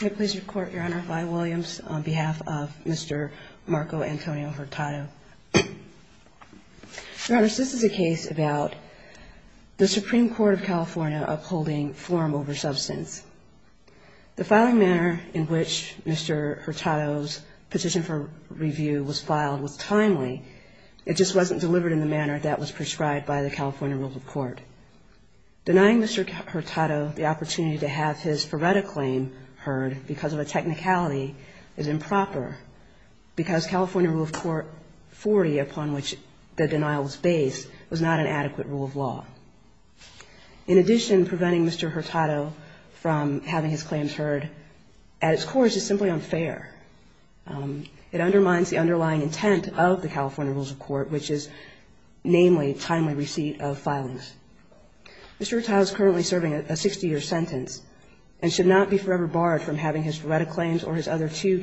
May I please report, Your Honor, Vi Williams on behalf of Mr. Marco Antonio Hurtado. Your Honors, this is a case about the Supreme Court of California upholding form over substance. The filing manner in which Mr. Hurtado's petition for review was filed was timely. It just wasn't delivered in the manner that was prescribed by the California Rule of Court. Denying Mr. Hurtado the opportunity to have his Ferretta claim heard because of a technicality is improper, because California Rule of Court 40, upon which the denial was based, was not an adequate rule of law. In addition, preventing Mr. Hurtado from having his claims heard at its core is just simply unfair. It undermines the underlying intent of the California Rules of Court, which is namely timely receipt of filings. Mr. Hurtado is currently serving a 60-year sentence and should not be forever barred from having his Ferretta claims or his other two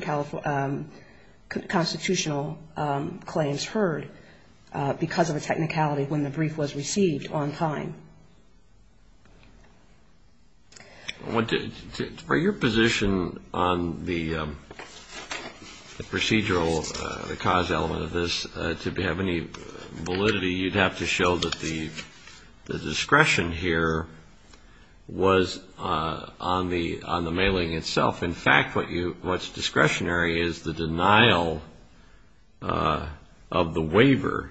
constitutional claims heard because of a technicality when the brief was received on time. Are your position on the procedural, the cause element of this, to have any validity? You'd have to show that the discretion here was on the mailing itself. In fact, what's discretionary is the denial of the waiver.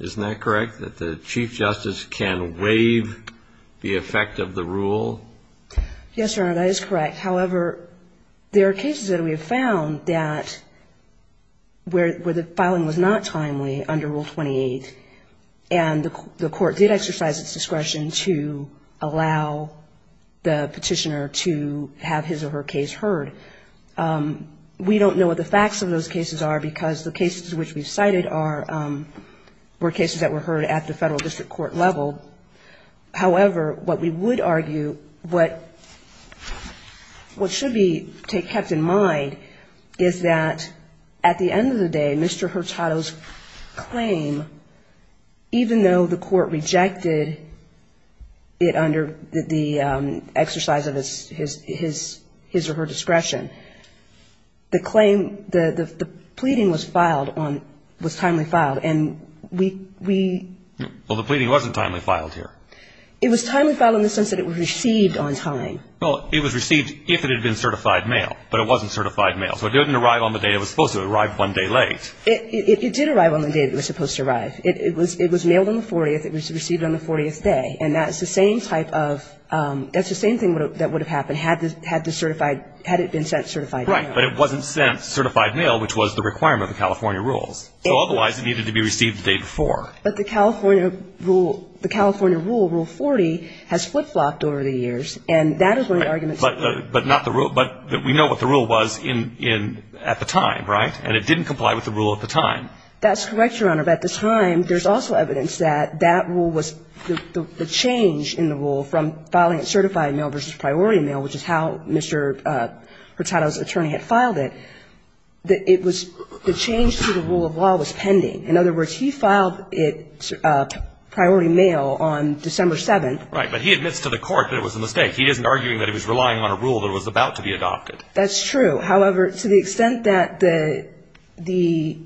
Isn't that correct, that the Chief Justice can waive the effect of the rule? Yes, Your Honor, that is correct. However, there are cases that we have found that where the filing was not timely under Rule 28, and the Court did exercise its discretion to allow the Petitioner to have his or her case heard. We don't know what the facts of those cases are because the cases which we've cited were cases that were heard at the Federal District Court level. However, what we would argue, what should be kept in mind is that at the end of the day, Mr. Hurtado's claim, even though the Court rejected it under the exercise of his or her discretion, the claim, the pleading was filed, was timely filed, and we... Well, the pleading wasn't timely filed here. It was timely filed in the sense that it was received on time. Well, it was received if it had been certified mail, but it wasn't certified mail, so it didn't arrive on the day it was supposed to arrive one day late. It did arrive on the day it was supposed to arrive. It was mailed on the 40th, it was received on the 40th day, and that's the same type of, that's the same thing that would have happened had it been sent certified mail. Right, but it wasn't sent certified mail, which was the requirement of the California rules. So otherwise it needed to be received the day before. But the California rule, Rule 40, has flip-flopped over the years, and that is one of the arguments... Right, but not the rule, but we know what the rule was at the time, right? And it didn't comply with the rule at the time. That's correct, Your Honor, but at the time there's also evidence that that rule was, the change in the rule from filing it certified mail versus priority mail, which is how Mr. Hurtado's attorney had filed it, that it was, the change to the rule of law was pending. In other words, he filed it priority mail on December 7th. Right, but he admits to the court that it was a mistake. He isn't arguing that he was relying on a rule that was about to be adopted. That's true. However, to the extent that the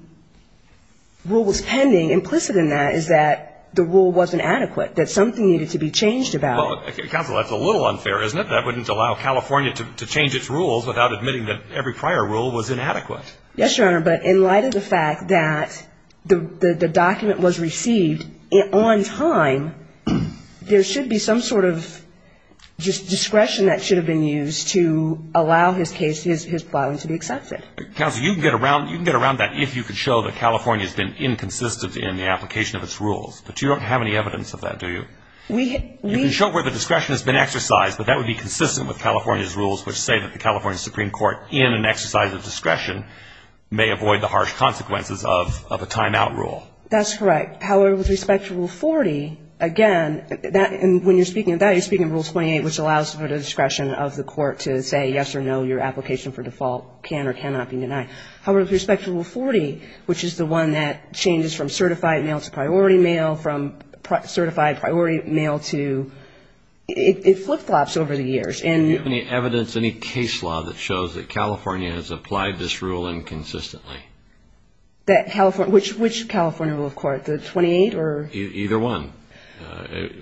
rule was pending, implicit in that is that the rule wasn't adequate, that something needed to be changed about it. Counsel, that's a little unfair, isn't it? That wouldn't allow California to change its rules without admitting that every prior rule was inadequate. Yes, Your Honor, but in light of the fact that the document was received on time, there should be some sort of discretion that should have been used to allow his filing to be accepted. Counsel, you can get around that if you can show that California has been inconsistent in the application of its rules, but you don't have any evidence of that, do you? You can show where the discretion has been exercised, but that would be consistent with California's rules, which say that the California Supreme Court, in an exercise of discretion, may avoid the harsh consequences of a timeout rule. That's correct. However, with respect to Rule 40, again, when you're speaking of that, you're speaking of Rule 28, which allows for the discretion of the court to say yes or no, your application for default can or cannot be denied. However, with respect to Rule 40, which is the one that changes from certified mail to priority mail, from certified priority mail to ‑‑ it flip-flops over the years. Do you have any evidence, any case law that shows that California has applied this rule inconsistently? Which California rule of court, the 28? Either one.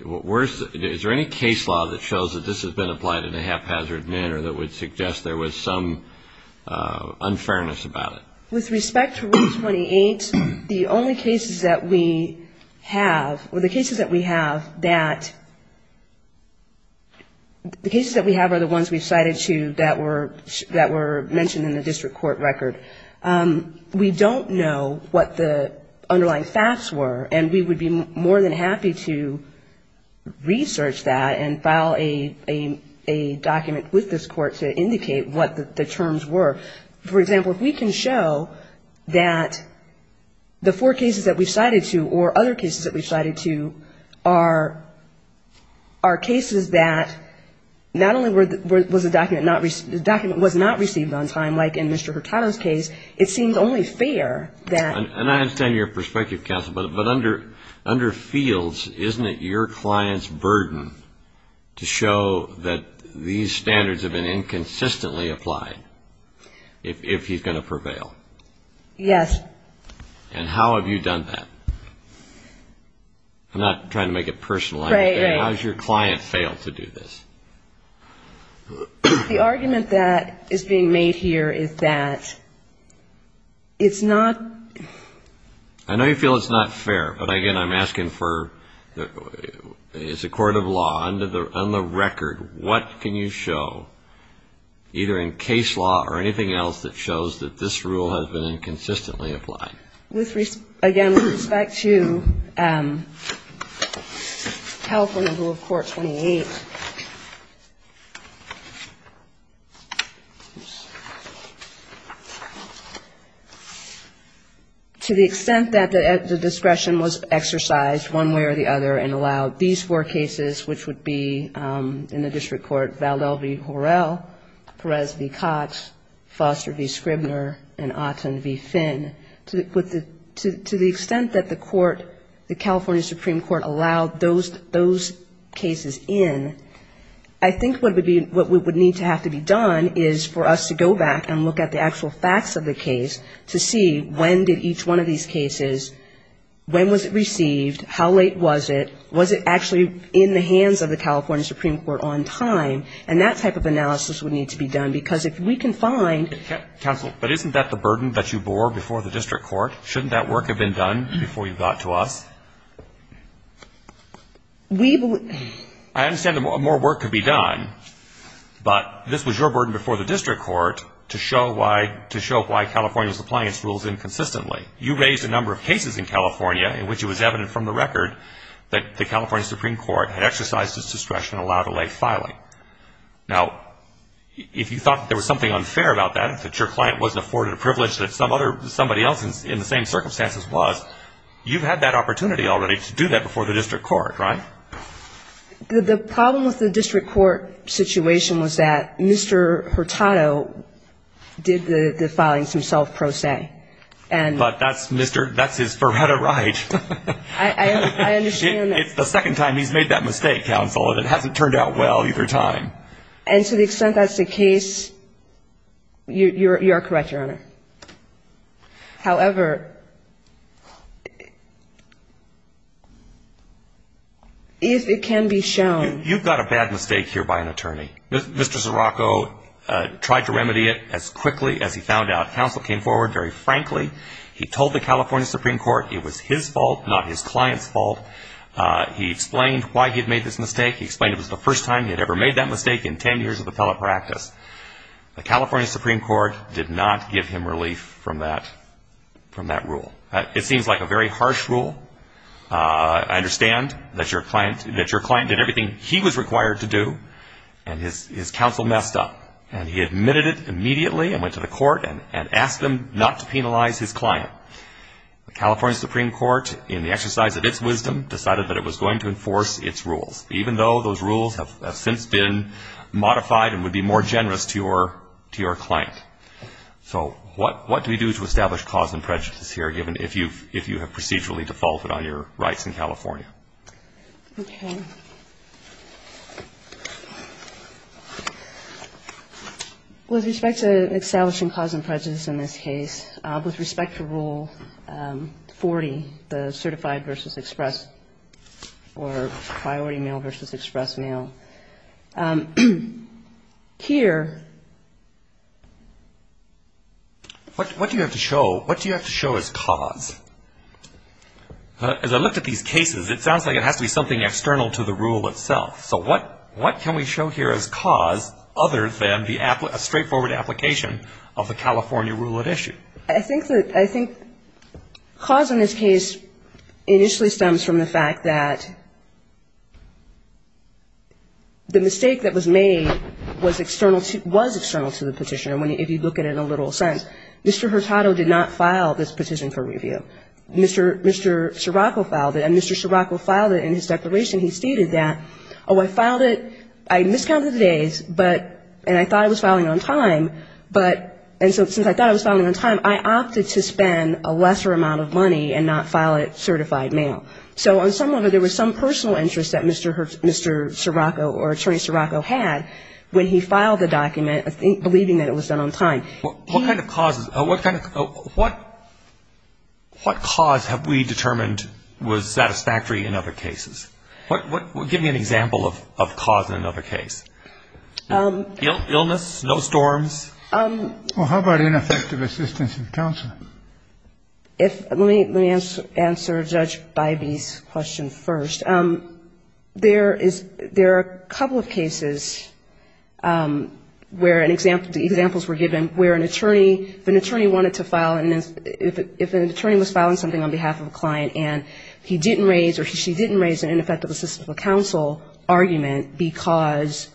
Is there any case law that shows that this has been applied in a haphazard manner that would suggest there was some unfairness about it? With respect to Rule 28, the only cases that we have, or the cases that we have that ‑‑ the cases that we have are the ones we've cited to that were mentioned in the district court record. We don't know what the underlying facts were, and we would be more than happy to research that and file a document with this court to indicate what the terms were. For example, if we can show that the four cases that we've cited to, or other cases that we've cited to, are cases that not only was the document not ‑‑ the document was not received on time, like in Mr. Hurtado's case, it seems only fair that ‑‑ And I understand your perspective, counsel, but under fields, isn't it your client's burden to show that these standards have been consistently applied if he's going to prevail? Yes. And how have you done that? I'm not trying to make it personal. Right, right. How has your client failed to do this? The argument that is being made here is that it's not ‑‑ I know you feel it's not fair, but, again, I'm asking for ‑‑ it's a court of law. On the record, what can you show, either in case law or anything else, that shows that this rule has been inconsistently applied? Again, with respect to California Rule of Court 28, the extent that the discretion was exercised one way or the other and allowed these four cases, which would be in the district court, Valdel v. Horrell, Perez v. Cotts, Foster v. Scribner, and Otten v. Finn, to the extent that the court, the California Supreme Court, allowed those cases in, I think what would be ‑‑ what would need to have to be done is for us to go back and look at the actual facts of the case to see when did each one of these cases, when was it received, how late was it, was it actually in the hands of the California Supreme Court on time, and that type of analysis would need to be done, because if we can find ‑‑ Counsel, but isn't that the burden that you bore before the district court? Shouldn't that work have been done before you got to us? I understand that more work could be done, but this was your burden before the district court to show why California's compliance rules inconsistently. You raised a number of cases in California in which it was evident from the record that the California Supreme Court had exercised its discretion to allow delayed filing. Now, if you thought that there was something unfair about that, that your client wasn't afforded a privilege that somebody else in the same circumstances was, you've had that opportunity already to do that before the district court, right? The problem with the district court situation was that Mr. Hurtado did the filings himself pro se. But that's Mr. ‑‑ that's his verita right. I understand. It's the second time he's made that mistake, Counsel, and it hasn't turned out well either time. And to the extent that's the case, you are correct, Your Honor. However, if it can be shown ‑‑ You've got a bad mistake here by an attorney. Mr. Scirocco tried to remedy it as quickly as he found out. Counsel came forward very frankly. He told the California Supreme Court it was his fault, not his client's fault. He explained why he had made this mistake. He explained it was the first time he had ever made that mistake in 10 years of appellate practice. The California Supreme Court did not give him relief from that rule. It seems like a very harsh rule. I understand that your client did everything he was required to do, and his counsel messed up. And he admitted it immediately and went to the court and asked them not to penalize his client. The California Supreme Court, in the exercise of its wisdom, decided that it was going to enforce its rules. Even though those rules have since been modified and would be more generous to your client. So what do we do to establish cause and prejudice here, given if you have procedurally defaulted on your rights in California? Okay. With respect to establishing cause and prejudice in this case, with respect to Rule 40, the certified versus express or priority mail versus express mail, here. What do you have to show as cause? As I looked at these cases, it sounds like it has to be something external to the rule itself. So what can we show here as cause other than a straightforward application of the California rule at issue? I think that the cause in this case initially stems from the fact that the mistake that was made was external to the petition, if you look at it in a literal sense. Mr. Hurtado did not file this petition for review. Mr. Scirocco filed it, and Mr. Scirocco filed it in his declaration. He stated that, oh, I filed it, I miscounted the days, but, and I thought I was filing on time, but, and so since I thought I was filing on time, I opted to spend a lesser amount of money and not file it certified mail. So there was some personal interest that Mr. Scirocco or Attorney Scirocco had when he filed the document, believing that it was done on time. What kind of causes, what kind of, what cause have we determined was satisfactory in other cases? Give me an example of cause in another case. Illness, snowstorms. Well, how about ineffective assistance in counsel? Let me answer Judge Bybee's question first. There is, there are a couple of cases where an example, the examples were given where an attorney, if an attorney wanted to file, if an attorney was filing something on behalf of a client and he didn't raise or she didn't raise an ineffective assistance of counsel argument because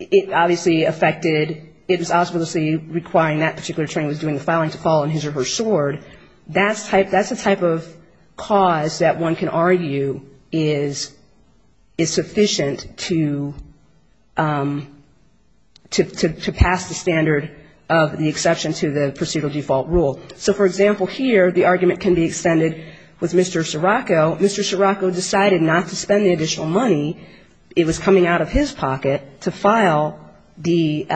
it obviously affected, it was obviously requiring that particular attorney was doing the filing to file on his or her sword, that's the type of cause that one can argue is sufficient to pass the standard of the exception to the procedural default rule. So, for example, here the argument can be extended with Mr. Scirocco. Mr. Scirocco decided not to spend the additional money, it was coming out of his pocket, to file the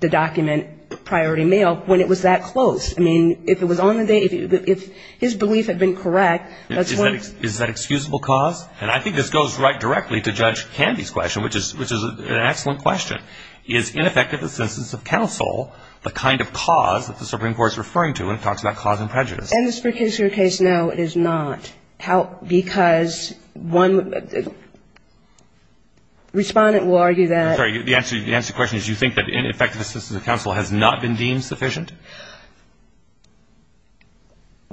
document, priority mail, when it was that close. I mean, if it was on the day, if his belief had been correct, that's when. Is that excusable cause? And I think this goes right directly to Judge Candy's question, which is an excellent question. Is ineffective assistance of counsel the kind of cause that the Supreme Court is referring to when it talks about cause and prejudice? In this particular case, no, it is not. How? Because one respondent will argue that. Sorry, the answer to your question is you think that ineffective assistance of counsel has not been deemed sufficient?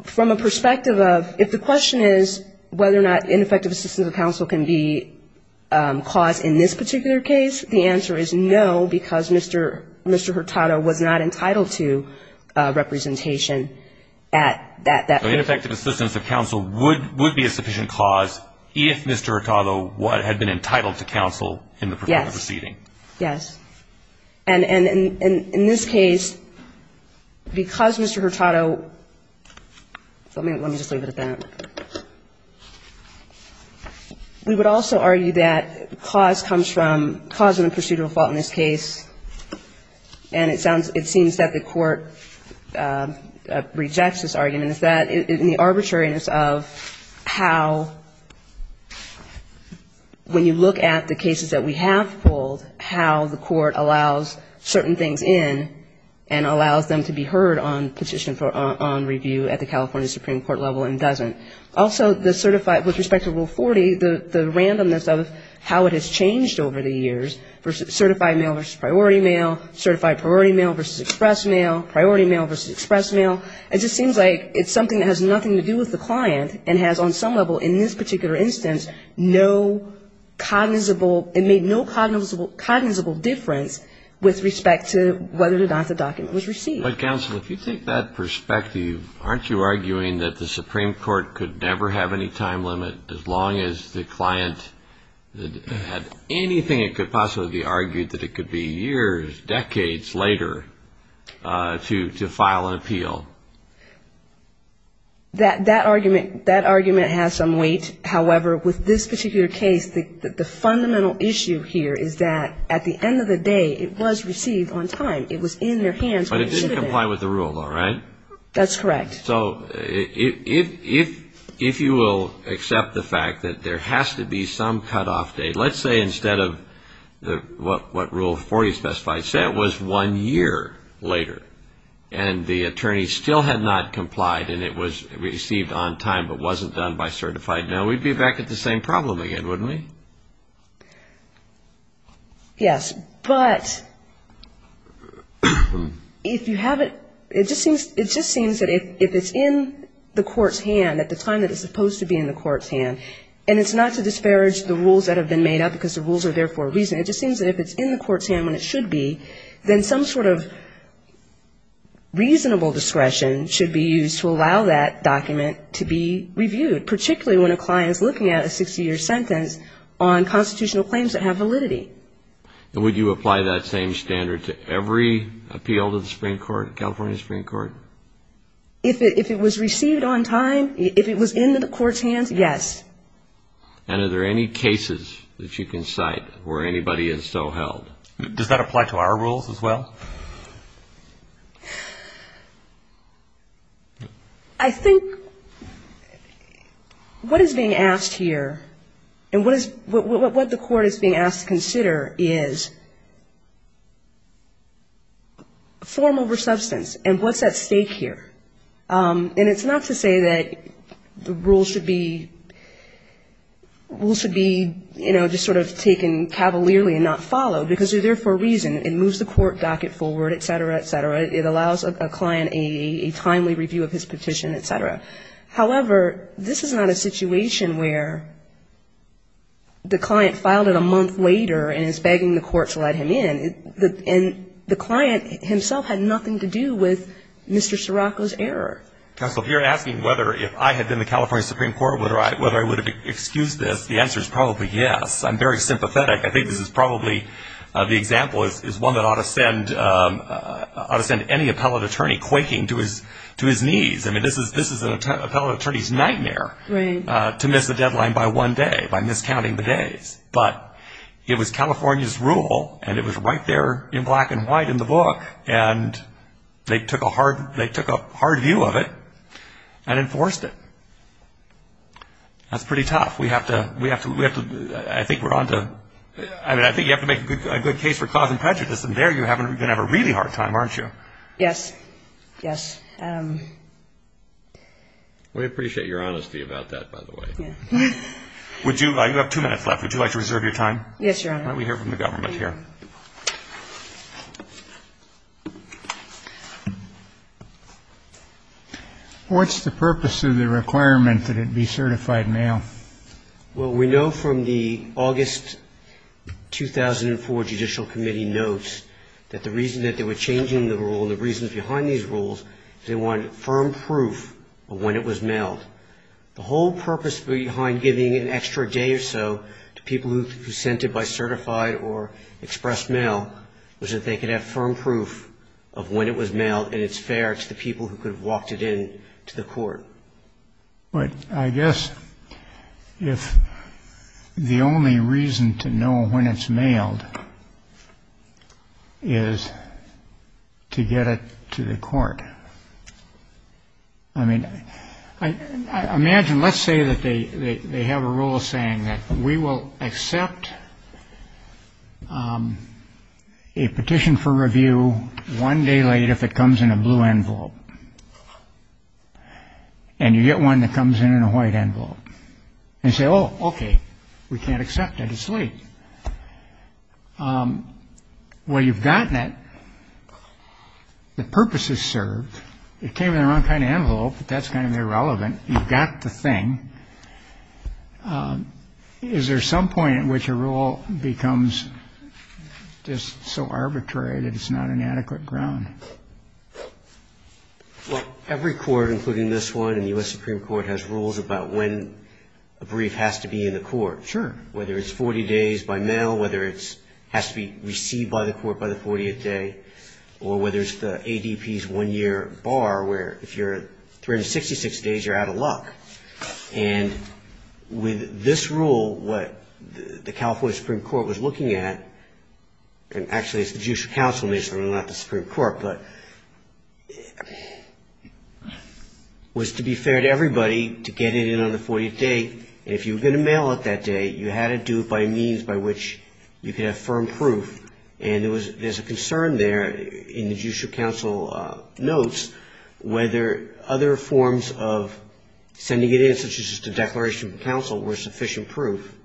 From a perspective of, if the question is whether or not ineffective assistance of counsel can be caused in this particular case, the answer is no, because Mr. Hurtado was not entitled to representation at that point. So ineffective assistance of counsel would be a sufficient cause if Mr. Hurtado had been entitled to counsel in the proceeding? Yes. Yes. And in this case, because Mr. Hurtado, let me just leave it at that. We would also argue that cause comes from the procedural fault in this case, and it seems that the court rejects this argument. It's that in the arbitrariness of how, when you look at the cases that we have pulled, how the court allows certain things in and allows them to be heard on petition for review at the California Supreme Court level and doesn't. Also, the certified with respect to Rule 40, the randomness of how it has changed over the years for certified mail versus priority mail, certified priority mail versus express mail, priority mail versus express mail. It just seems like it's something that has nothing to do with the client and has on some level in this particular instance no cognizable, it made no cognizable difference with respect to whether or not the document was received. But, counsel, if you take that perspective, aren't you arguing that the Supreme Court could never have any time limit as long as the client had anything that could possibly be argued that it could be years, decades later to file an appeal? That argument has some weight. However, with this particular case, the fundamental issue here is that at the end of the day, it was received on time. It was in their hands when it should have been. But it didn't comply with the rule, though, right? That's correct. So if you will accept the fact that there has to be some cutoff date. Let's say instead of what Rule 40 specified, say it was one year later and the attorney still had not complied and it was received on time but wasn't done by certified mail, we'd be back at the same problem again, wouldn't we? Yes. But if you have it, it just seems that if it's in the court's hand at the time that it's supposed to be in the court's hand, and it's not to disparage the rules that have been made up because the rules are there for a reason, it just seems that if it's in the court's hand when it should be, then some sort of reasonable discretion should be used to allow that document to be reviewed, particularly when a client is looking at a 60-year sentence on constitutional claims that have validity. And would you apply that same standard to every appeal to the Supreme Court, California Supreme Court? If it was received on time, if it was in the court's hands, yes. And are there any cases that you can cite where anybody is so held? Does that apply to our rules as well? I think what is being asked here and what the court is being asked to consider is form over substance and what's at stake here. And it's not to say that the rules should be, you know, just sort of taken cavalierly and not followed because they're there for a reason, you know, but on the other hand, the standards that are being applied to our rules, the standard that's being applied to the California Supreme Court, it does not make it forward, et cetera, et cetera. It allows a client a timely review of his petition, et cetera. However, this is not a situation where the client filed it a month later and is begging the court to let him in. And the client himself had nothing to do with Mr. Sirocco's error. So if you're asking whether if I had been the California Supreme Court whether I would have excused this, the answer is probably yes. I'm very sympathetic. I think this is probably the example is one that ought to send any appellate attorney quaking to his knees. I mean, this is an appellate attorney's nightmare to miss a deadline by one day, by miscounting the days. But it was California's rule, and it was right there in black and white in the book. And they took a hard view of it and enforced it. That's pretty tough. We have to we have to I think we're on to I mean, I think you have to make a good case for causing prejudice. And there you're going to have a really hard time, aren't you? Yes. Yes. We appreciate your honesty about that, by the way. Would you like to have two minutes left? Would you like to reserve your time? Yes, Your Honor. What's the purpose of the requirement that it be certified now? Well, we know from the August 2004 Judicial Committee notes that the reason that they were changing the rule and the reasons behind these rules is they wanted firm proof of when it was mailed. The whole purpose behind giving an extra day or so to people who sent it by certified or expressed mail was that they could have firm proof of when it was mailed, and it's fair to the people who could have walked it in to the court. But I guess if the only reason to know when it's mailed is to get it to the court. I mean, I imagine let's say that they have a rule saying that we will accept a petition for review one day late if it comes in a blue envelope. And you get one that comes in in a white envelope. And you say, oh, okay, we can't accept it. It's late. Well, you've gotten it. The purpose is served. It came in the wrong kind of envelope, but that's kind of irrelevant. You've got the thing. Is there some point at which a rule becomes just so arbitrary that it's not an adequate ground? Well, every court, including this one in the U.S. Supreme Court, has rules about when a brief has to be in the court. Sure. Whether it's 40 days by mail, whether it has to be received by the court by the 40th day, or whether it's the ADP's one-year bar where if you're 366 days, you're out of luck. And with this rule, what the California Supreme Court was looking at, and actually it's the judicial counsel, not the Supreme Court, but the Supreme Court, was to be fair to everybody to get it in on the 40th day. And if you were going to mail it that day, you had to do it by means by which you could have firm proof. And there's a concern there in the judicial counsel notes whether other forms of sending it in, such as just a declaration from counsel, were sufficient proof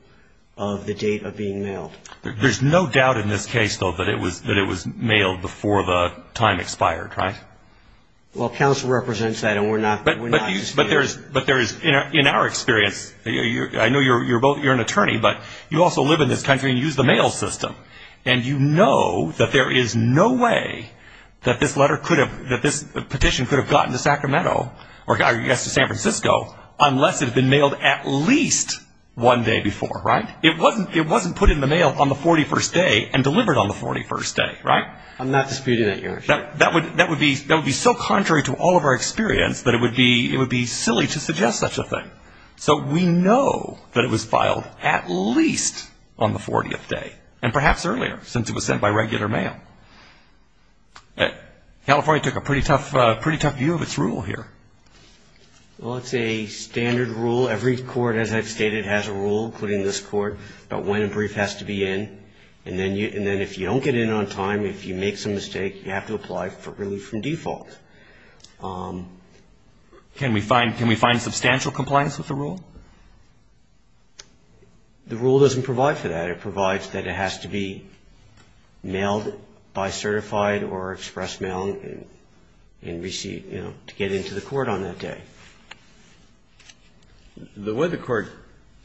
of the date of being mailed. There's no doubt in this case, though, that it was mailed before the time expired, right? Well, counsel represents that, and we're not disputing that. But there is, in our experience, I know you're an attorney, but you also live in this country and use the mail system. And you know that there is no way that this petition could have gotten to Sacramento or got to San Francisco unless it had been mailed at least one day before, right? It wasn't put in the mail on the 41st day and delivered on the 41st day, right? I'm not disputing that, Your Honor. That would be so contrary to all of our experience that it would be silly to suggest such a thing. So we know that it was filed at least on the 40th day, and perhaps earlier, since it was sent by regular mail. California took a pretty tough view of its rule here. Well, it's a standard rule. Every court, as I've stated, has a rule put in this court about when a brief has to be in. And then if you don't get in on time, if you make some mistake, you have to apply really from default. Can we find substantial compliance with the rule? The rule doesn't provide for that. It provides that it has to be mailed by certified or express mail and received, you know, to get into the court on that day. The way the court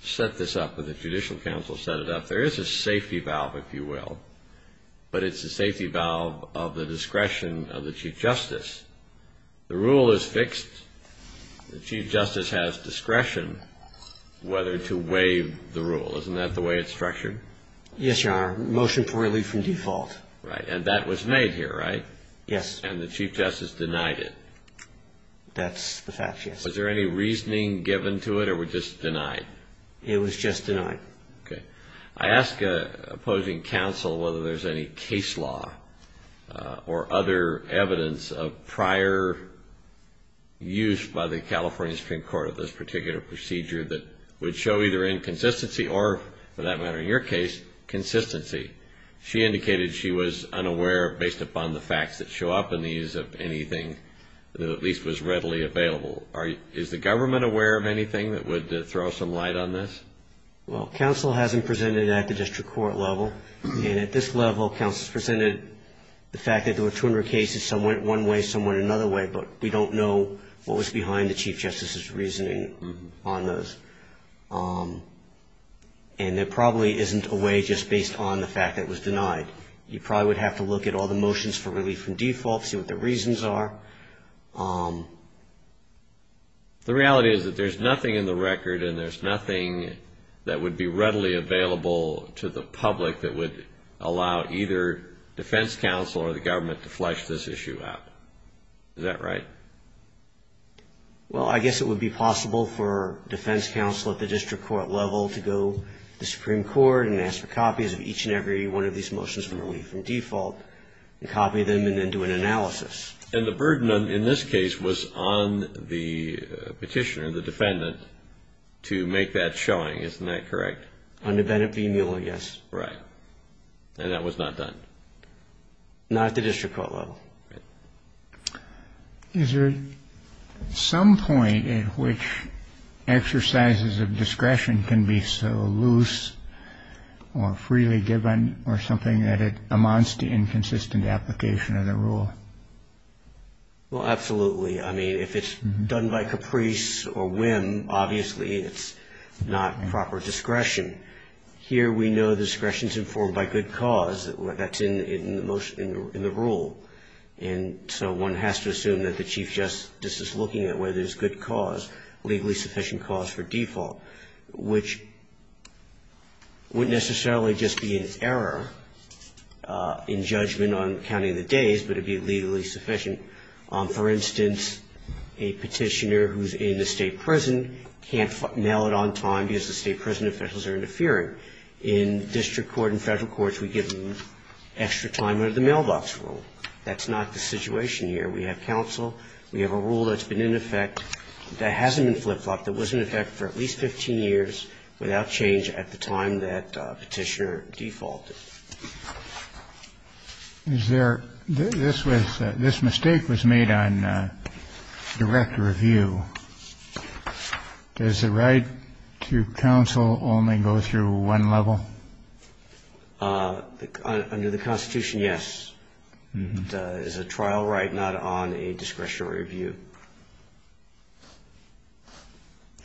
set this up or the Judicial Council set it up, there is a safety valve, if you will. But it's a safety valve of the discretion of the Chief Justice. The rule is fixed. The Chief Justice has discretion whether to waive the rule. Isn't that the way it's structured? Yes, Your Honor. Motion to relieve from default. Right. And that was made here, right? Yes. And the Chief Justice denied it. That's the fact, yes. Was there any reasoning given to it or was it just denied? It was just denied. I ask opposing counsel whether there's any case law or other evidence of prior use by the California Supreme Court of this particular procedure that would show either inconsistency or, for that matter, in your case, consistency. She indicated she was unaware based upon the facts that show up in the use of anything that at least was readily available. Is the government aware of anything that would throw some light on this? Well, counsel hasn't presented it at the district court level. And at this level, counsel's presented the fact that there were 200 cases. Some went one way. Some went another way. But we don't know what was behind the Chief Justice's reasoning on those. And there probably isn't a way just based on the fact that it was denied. You probably would have to look at all the motions for relief from default, see what the reasons are. The reality is that there's nothing in the record and there's nothing that would be readily available to the public that would allow either defense counsel or the government to flesh this issue out. Is that right? Well, I guess it would be possible for defense counsel at the district court level to go to the Supreme Court and ask for copies of each and every one of these motions for relief from default and copy them and then do an analysis. And the burden in this case was on the petitioner, the defendant, to make that showing. Isn't that correct? Under Bennett v. Newell, yes. Right. And that was not done? Not at the district court level. Is there some point at which exercises of discretion can be so loose or freely given or something that it amounts to inconsistent application of the rule? Well, absolutely. I mean, if it's done by caprice or whim, obviously it's not proper discretion. Here we know discretion is informed by good cause. That's in the rule. And so one has to assume that the chief justice is looking at whether there's good cause, legally sufficient cause for default, which wouldn't necessarily just be an error in judgment on counting the days, but it would be legally sufficient. For instance, a petitioner who's in a state prison can't mail it on time because the state prison officials are in charge. That's a rule that's been in effect for at least 15 years without change at the time that the petitioner defaulted. Is there – this was – this mistake was made on direct review. Does the right to counsel only go to the district court? Does it only go through one level? Under the Constitution, yes. It is a trial right, not on a discretionary review.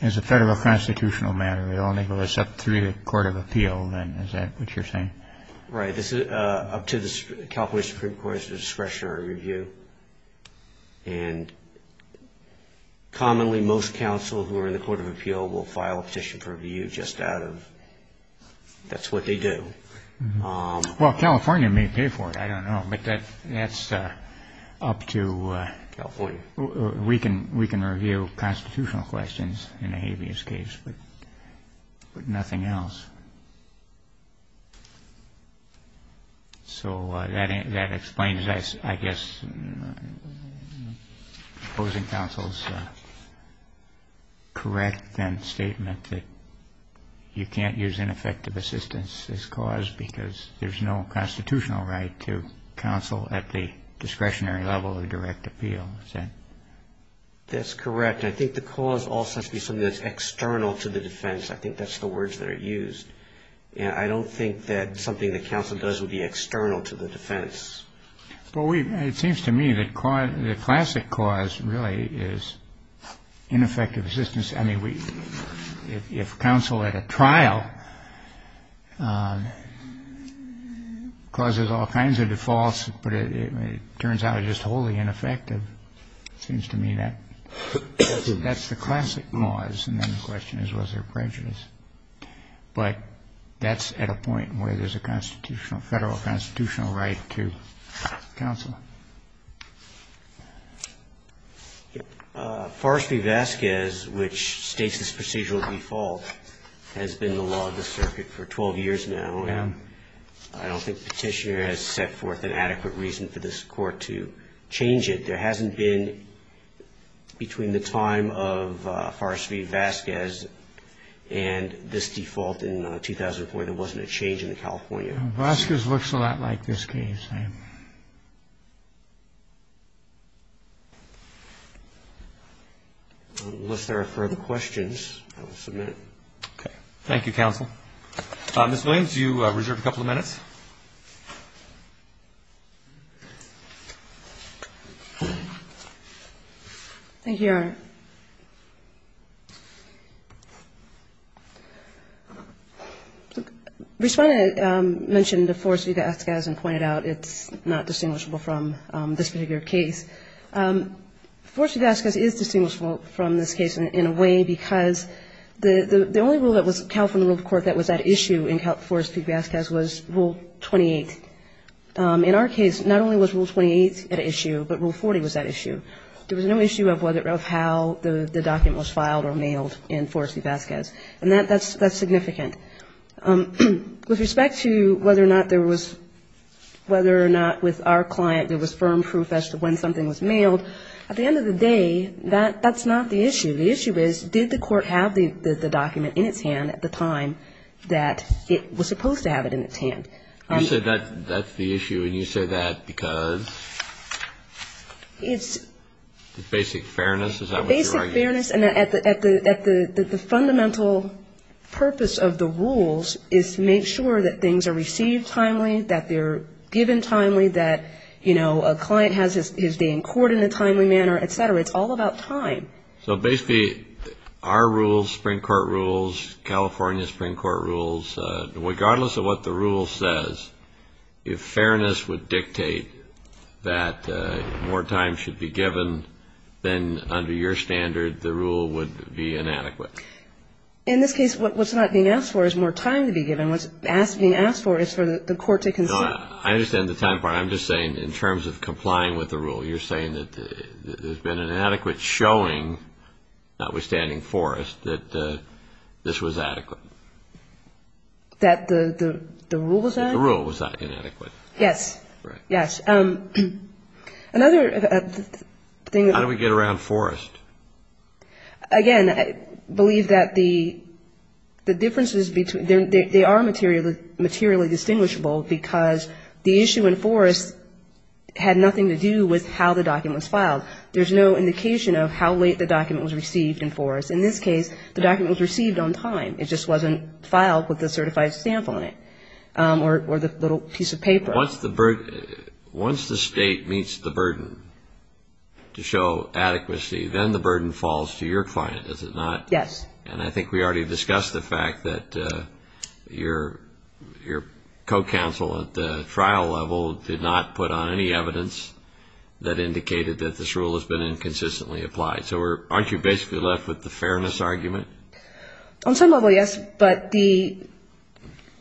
As a federal constitutional matter, it only goes up through the court of appeal, then, is that what you're saying? Right. This is up to the California Supreme Court's discretionary review. And commonly, most counsel who are in the court of appeal will file a petition for review just out of – that's what they do. Well, California may pay for it, I don't know, but that's up to – California. We can review constitutional questions in a habeas case, but nothing else. So that explains, I guess, opposing counsel's correct then statement that you can't use ineffective assistance as cause because there's no constitutional right to counsel at the discretionary level of direct appeal. That's correct. I think the cause also has to be something that's external to the defense. I think that's the words that are used. I don't think that something that counsel does would be external to the defense. Well, it seems to me that the classic cause really is ineffective assistance. I mean, if counsel at a trial causes all kinds of defaults, but it turns out it's just wholly ineffective, it seems to me that that's the classic cause. And then the question is, was there prejudice? But that's at a point where there's a federal constitutional right to counsel. Forrest v. Vasquez, which states this procedural default, has been the law of the circuit for 12 years now. And I don't think Petitioner has set forth an adequate reason for this Court to change it. There hasn't been, between the time of Forrest v. Vasquez and the time of Petitioner, there hasn't been an adequate reason for this Court to change it. And this default in 2004, there wasn't a change in the California. Vasquez looks a lot like this case. Unless there are further questions, I will submit. Okay. Thank you, counsel. Ms. Williams, you reserve a couple of minutes. Respondent mentioned Forrest v. Vasquez and pointed out it's not distinguishable from this particular case. Forrest v. Vasquez is distinguishable from this case in a way because the only rule that was held from the rule of court that was at issue in Forrest v. Vasquez was Rule 28. In our case, not only was Rule 28 at issue, but Rule 40 was at issue. There was no issue of whether or how the document was filed or mailed in Forrest v. Vasquez. And that's significant. With respect to whether or not there was, whether or not with our client there was firm proof as to when something was mailed, at the end of the day, that's not the issue. The issue is, did the Court have the document in its hand at the time that it was supposed to have it in its hand? You said that's the issue, and you say that because? It's the basic fairness. Is that what you're arguing? Basic fairness, and the fundamental purpose of the rules is to make sure that things are received timely, that they're given timely, that, you know, a client is being courted in a timely manner, et cetera. It's all about time. So basically our rules, Supreme Court rules, California Supreme Court rules, regardless of what the rule says, if fairness would dictate that more time should be given, then under your standard, the rule would be inadequate. In this case, what's not being asked for is more time to be given. What's being asked for is for the court to consent. I understand the time part. I'm just saying in terms of complying with the rule, you're saying that there's been an inadequate showing, notwithstanding Forrest, that this was adequate. That the rule was that? The rule was that, inadequate. Yes. Yes. Another thing. How do we get around Forrest? Again, I believe that the differences between, they are materially distinguishable because the issue in Forrest had nothing to do with how the document was filed. There's no indication of how late the document was received in Forrest. In this case, the document was received on time. It just wasn't filed with a certified stamp on it or the little piece of paper. Once the state meets the burden to show adequacy, then the burden falls to your client, does it not? Yes. And I think we already discussed the fact that your co-counsel at the trial level did not put on any evidence that indicated that this rule has been inconsistently applied. So aren't you basically left with the fairness argument? On some level, yes. But the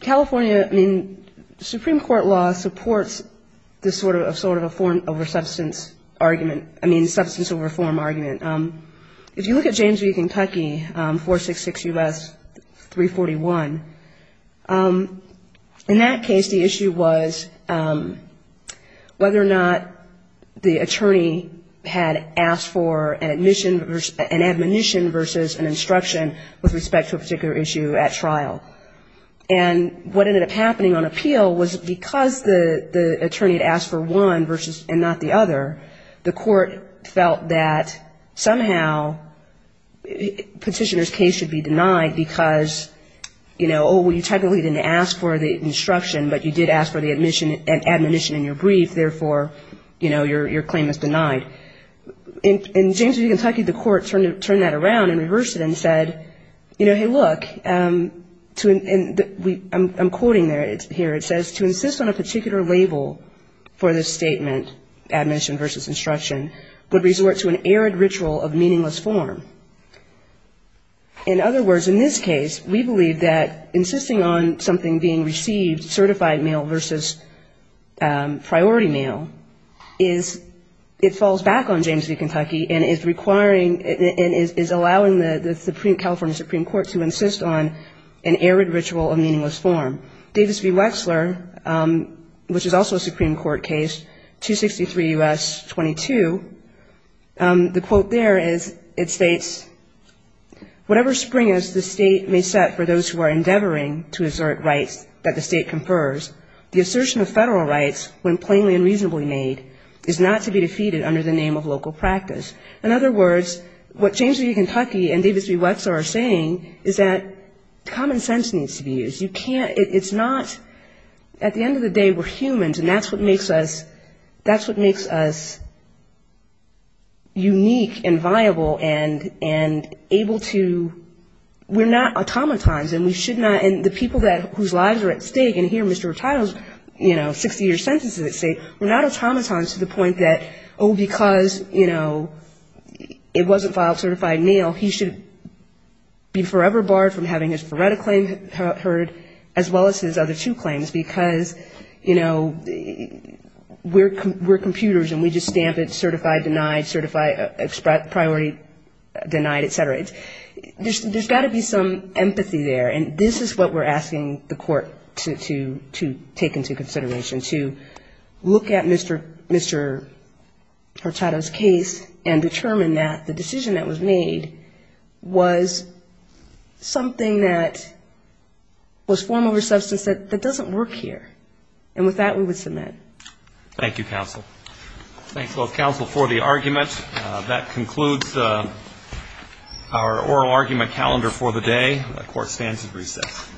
California, I mean, Supreme Court law supports this sort of a form over substance argument, I mean substance over form argument. If you look at James v. Kentucky, 466 U.S. 341, in that case the issue was whether or not the attorney had asked for an admonition versus an instruction with respect to a particular issue at trial. And what ended up happening on appeal was because the attorney had asked for one and not the other, the court felt that somehow petitioner's case should be denied because, you know, oh, well, you technically didn't ask for the instruction, but you did ask for the admonition in your brief, therefore, you know, your claim is denied. In James v. Kentucky, the court turned that around and reversed it and said, you know, hey, look, I'm quoting here, it says, to insist on a particular label for this statement, admonition versus instruction, would resort to an arid ritual of meaningless form. In other words, in this case, we believe that insisting on something being received, certified mail versus priority mail, is, it falls back on James v. Kentucky and is requiring, is allowing the California Supreme Court to insist on an arid ritual of meaningless form. Davis v. Wexler, which is also a Supreme Court case, 263 U.S. 22, the quote there is, it states, whatever spring as the state may set for those who are endeavoring to assert rights that the state confers, the assertion of federal rights, when plainly and reasonably made, is not to be defeated under the name of local practice. In other words, what James v. Kentucky and Davis v. Wexler are saying is that common sense needs to be used. You can't, it's not, at the end of the day, we're humans, and that's what makes us, that's what makes us unique and viable and able to, we're not automatons, and we should not, and the people whose lives are at stake, and hear Mr. Rattaille's, you know, 60-year sentences that say, we're not automatons to the point that, oh, because, you know, it wasn't filed certified mail, he should be forever barred from having his FRERTA claim heard, as well as his other two claims, because, you know, we're computers, and we just stamp it certified, denied, certified, priority denied, et cetera. There's got to be some empathy there, and this is what we're asking the court to take into consideration, to look at Mr. Rattaille's case and determine that the decision that was made was something that was form over substance that doesn't work here. And with that, we would submit. Thank you, counsel. Thanks, both counsel, for the argument. That concludes our oral argument calendar for the day. The court stands at recess.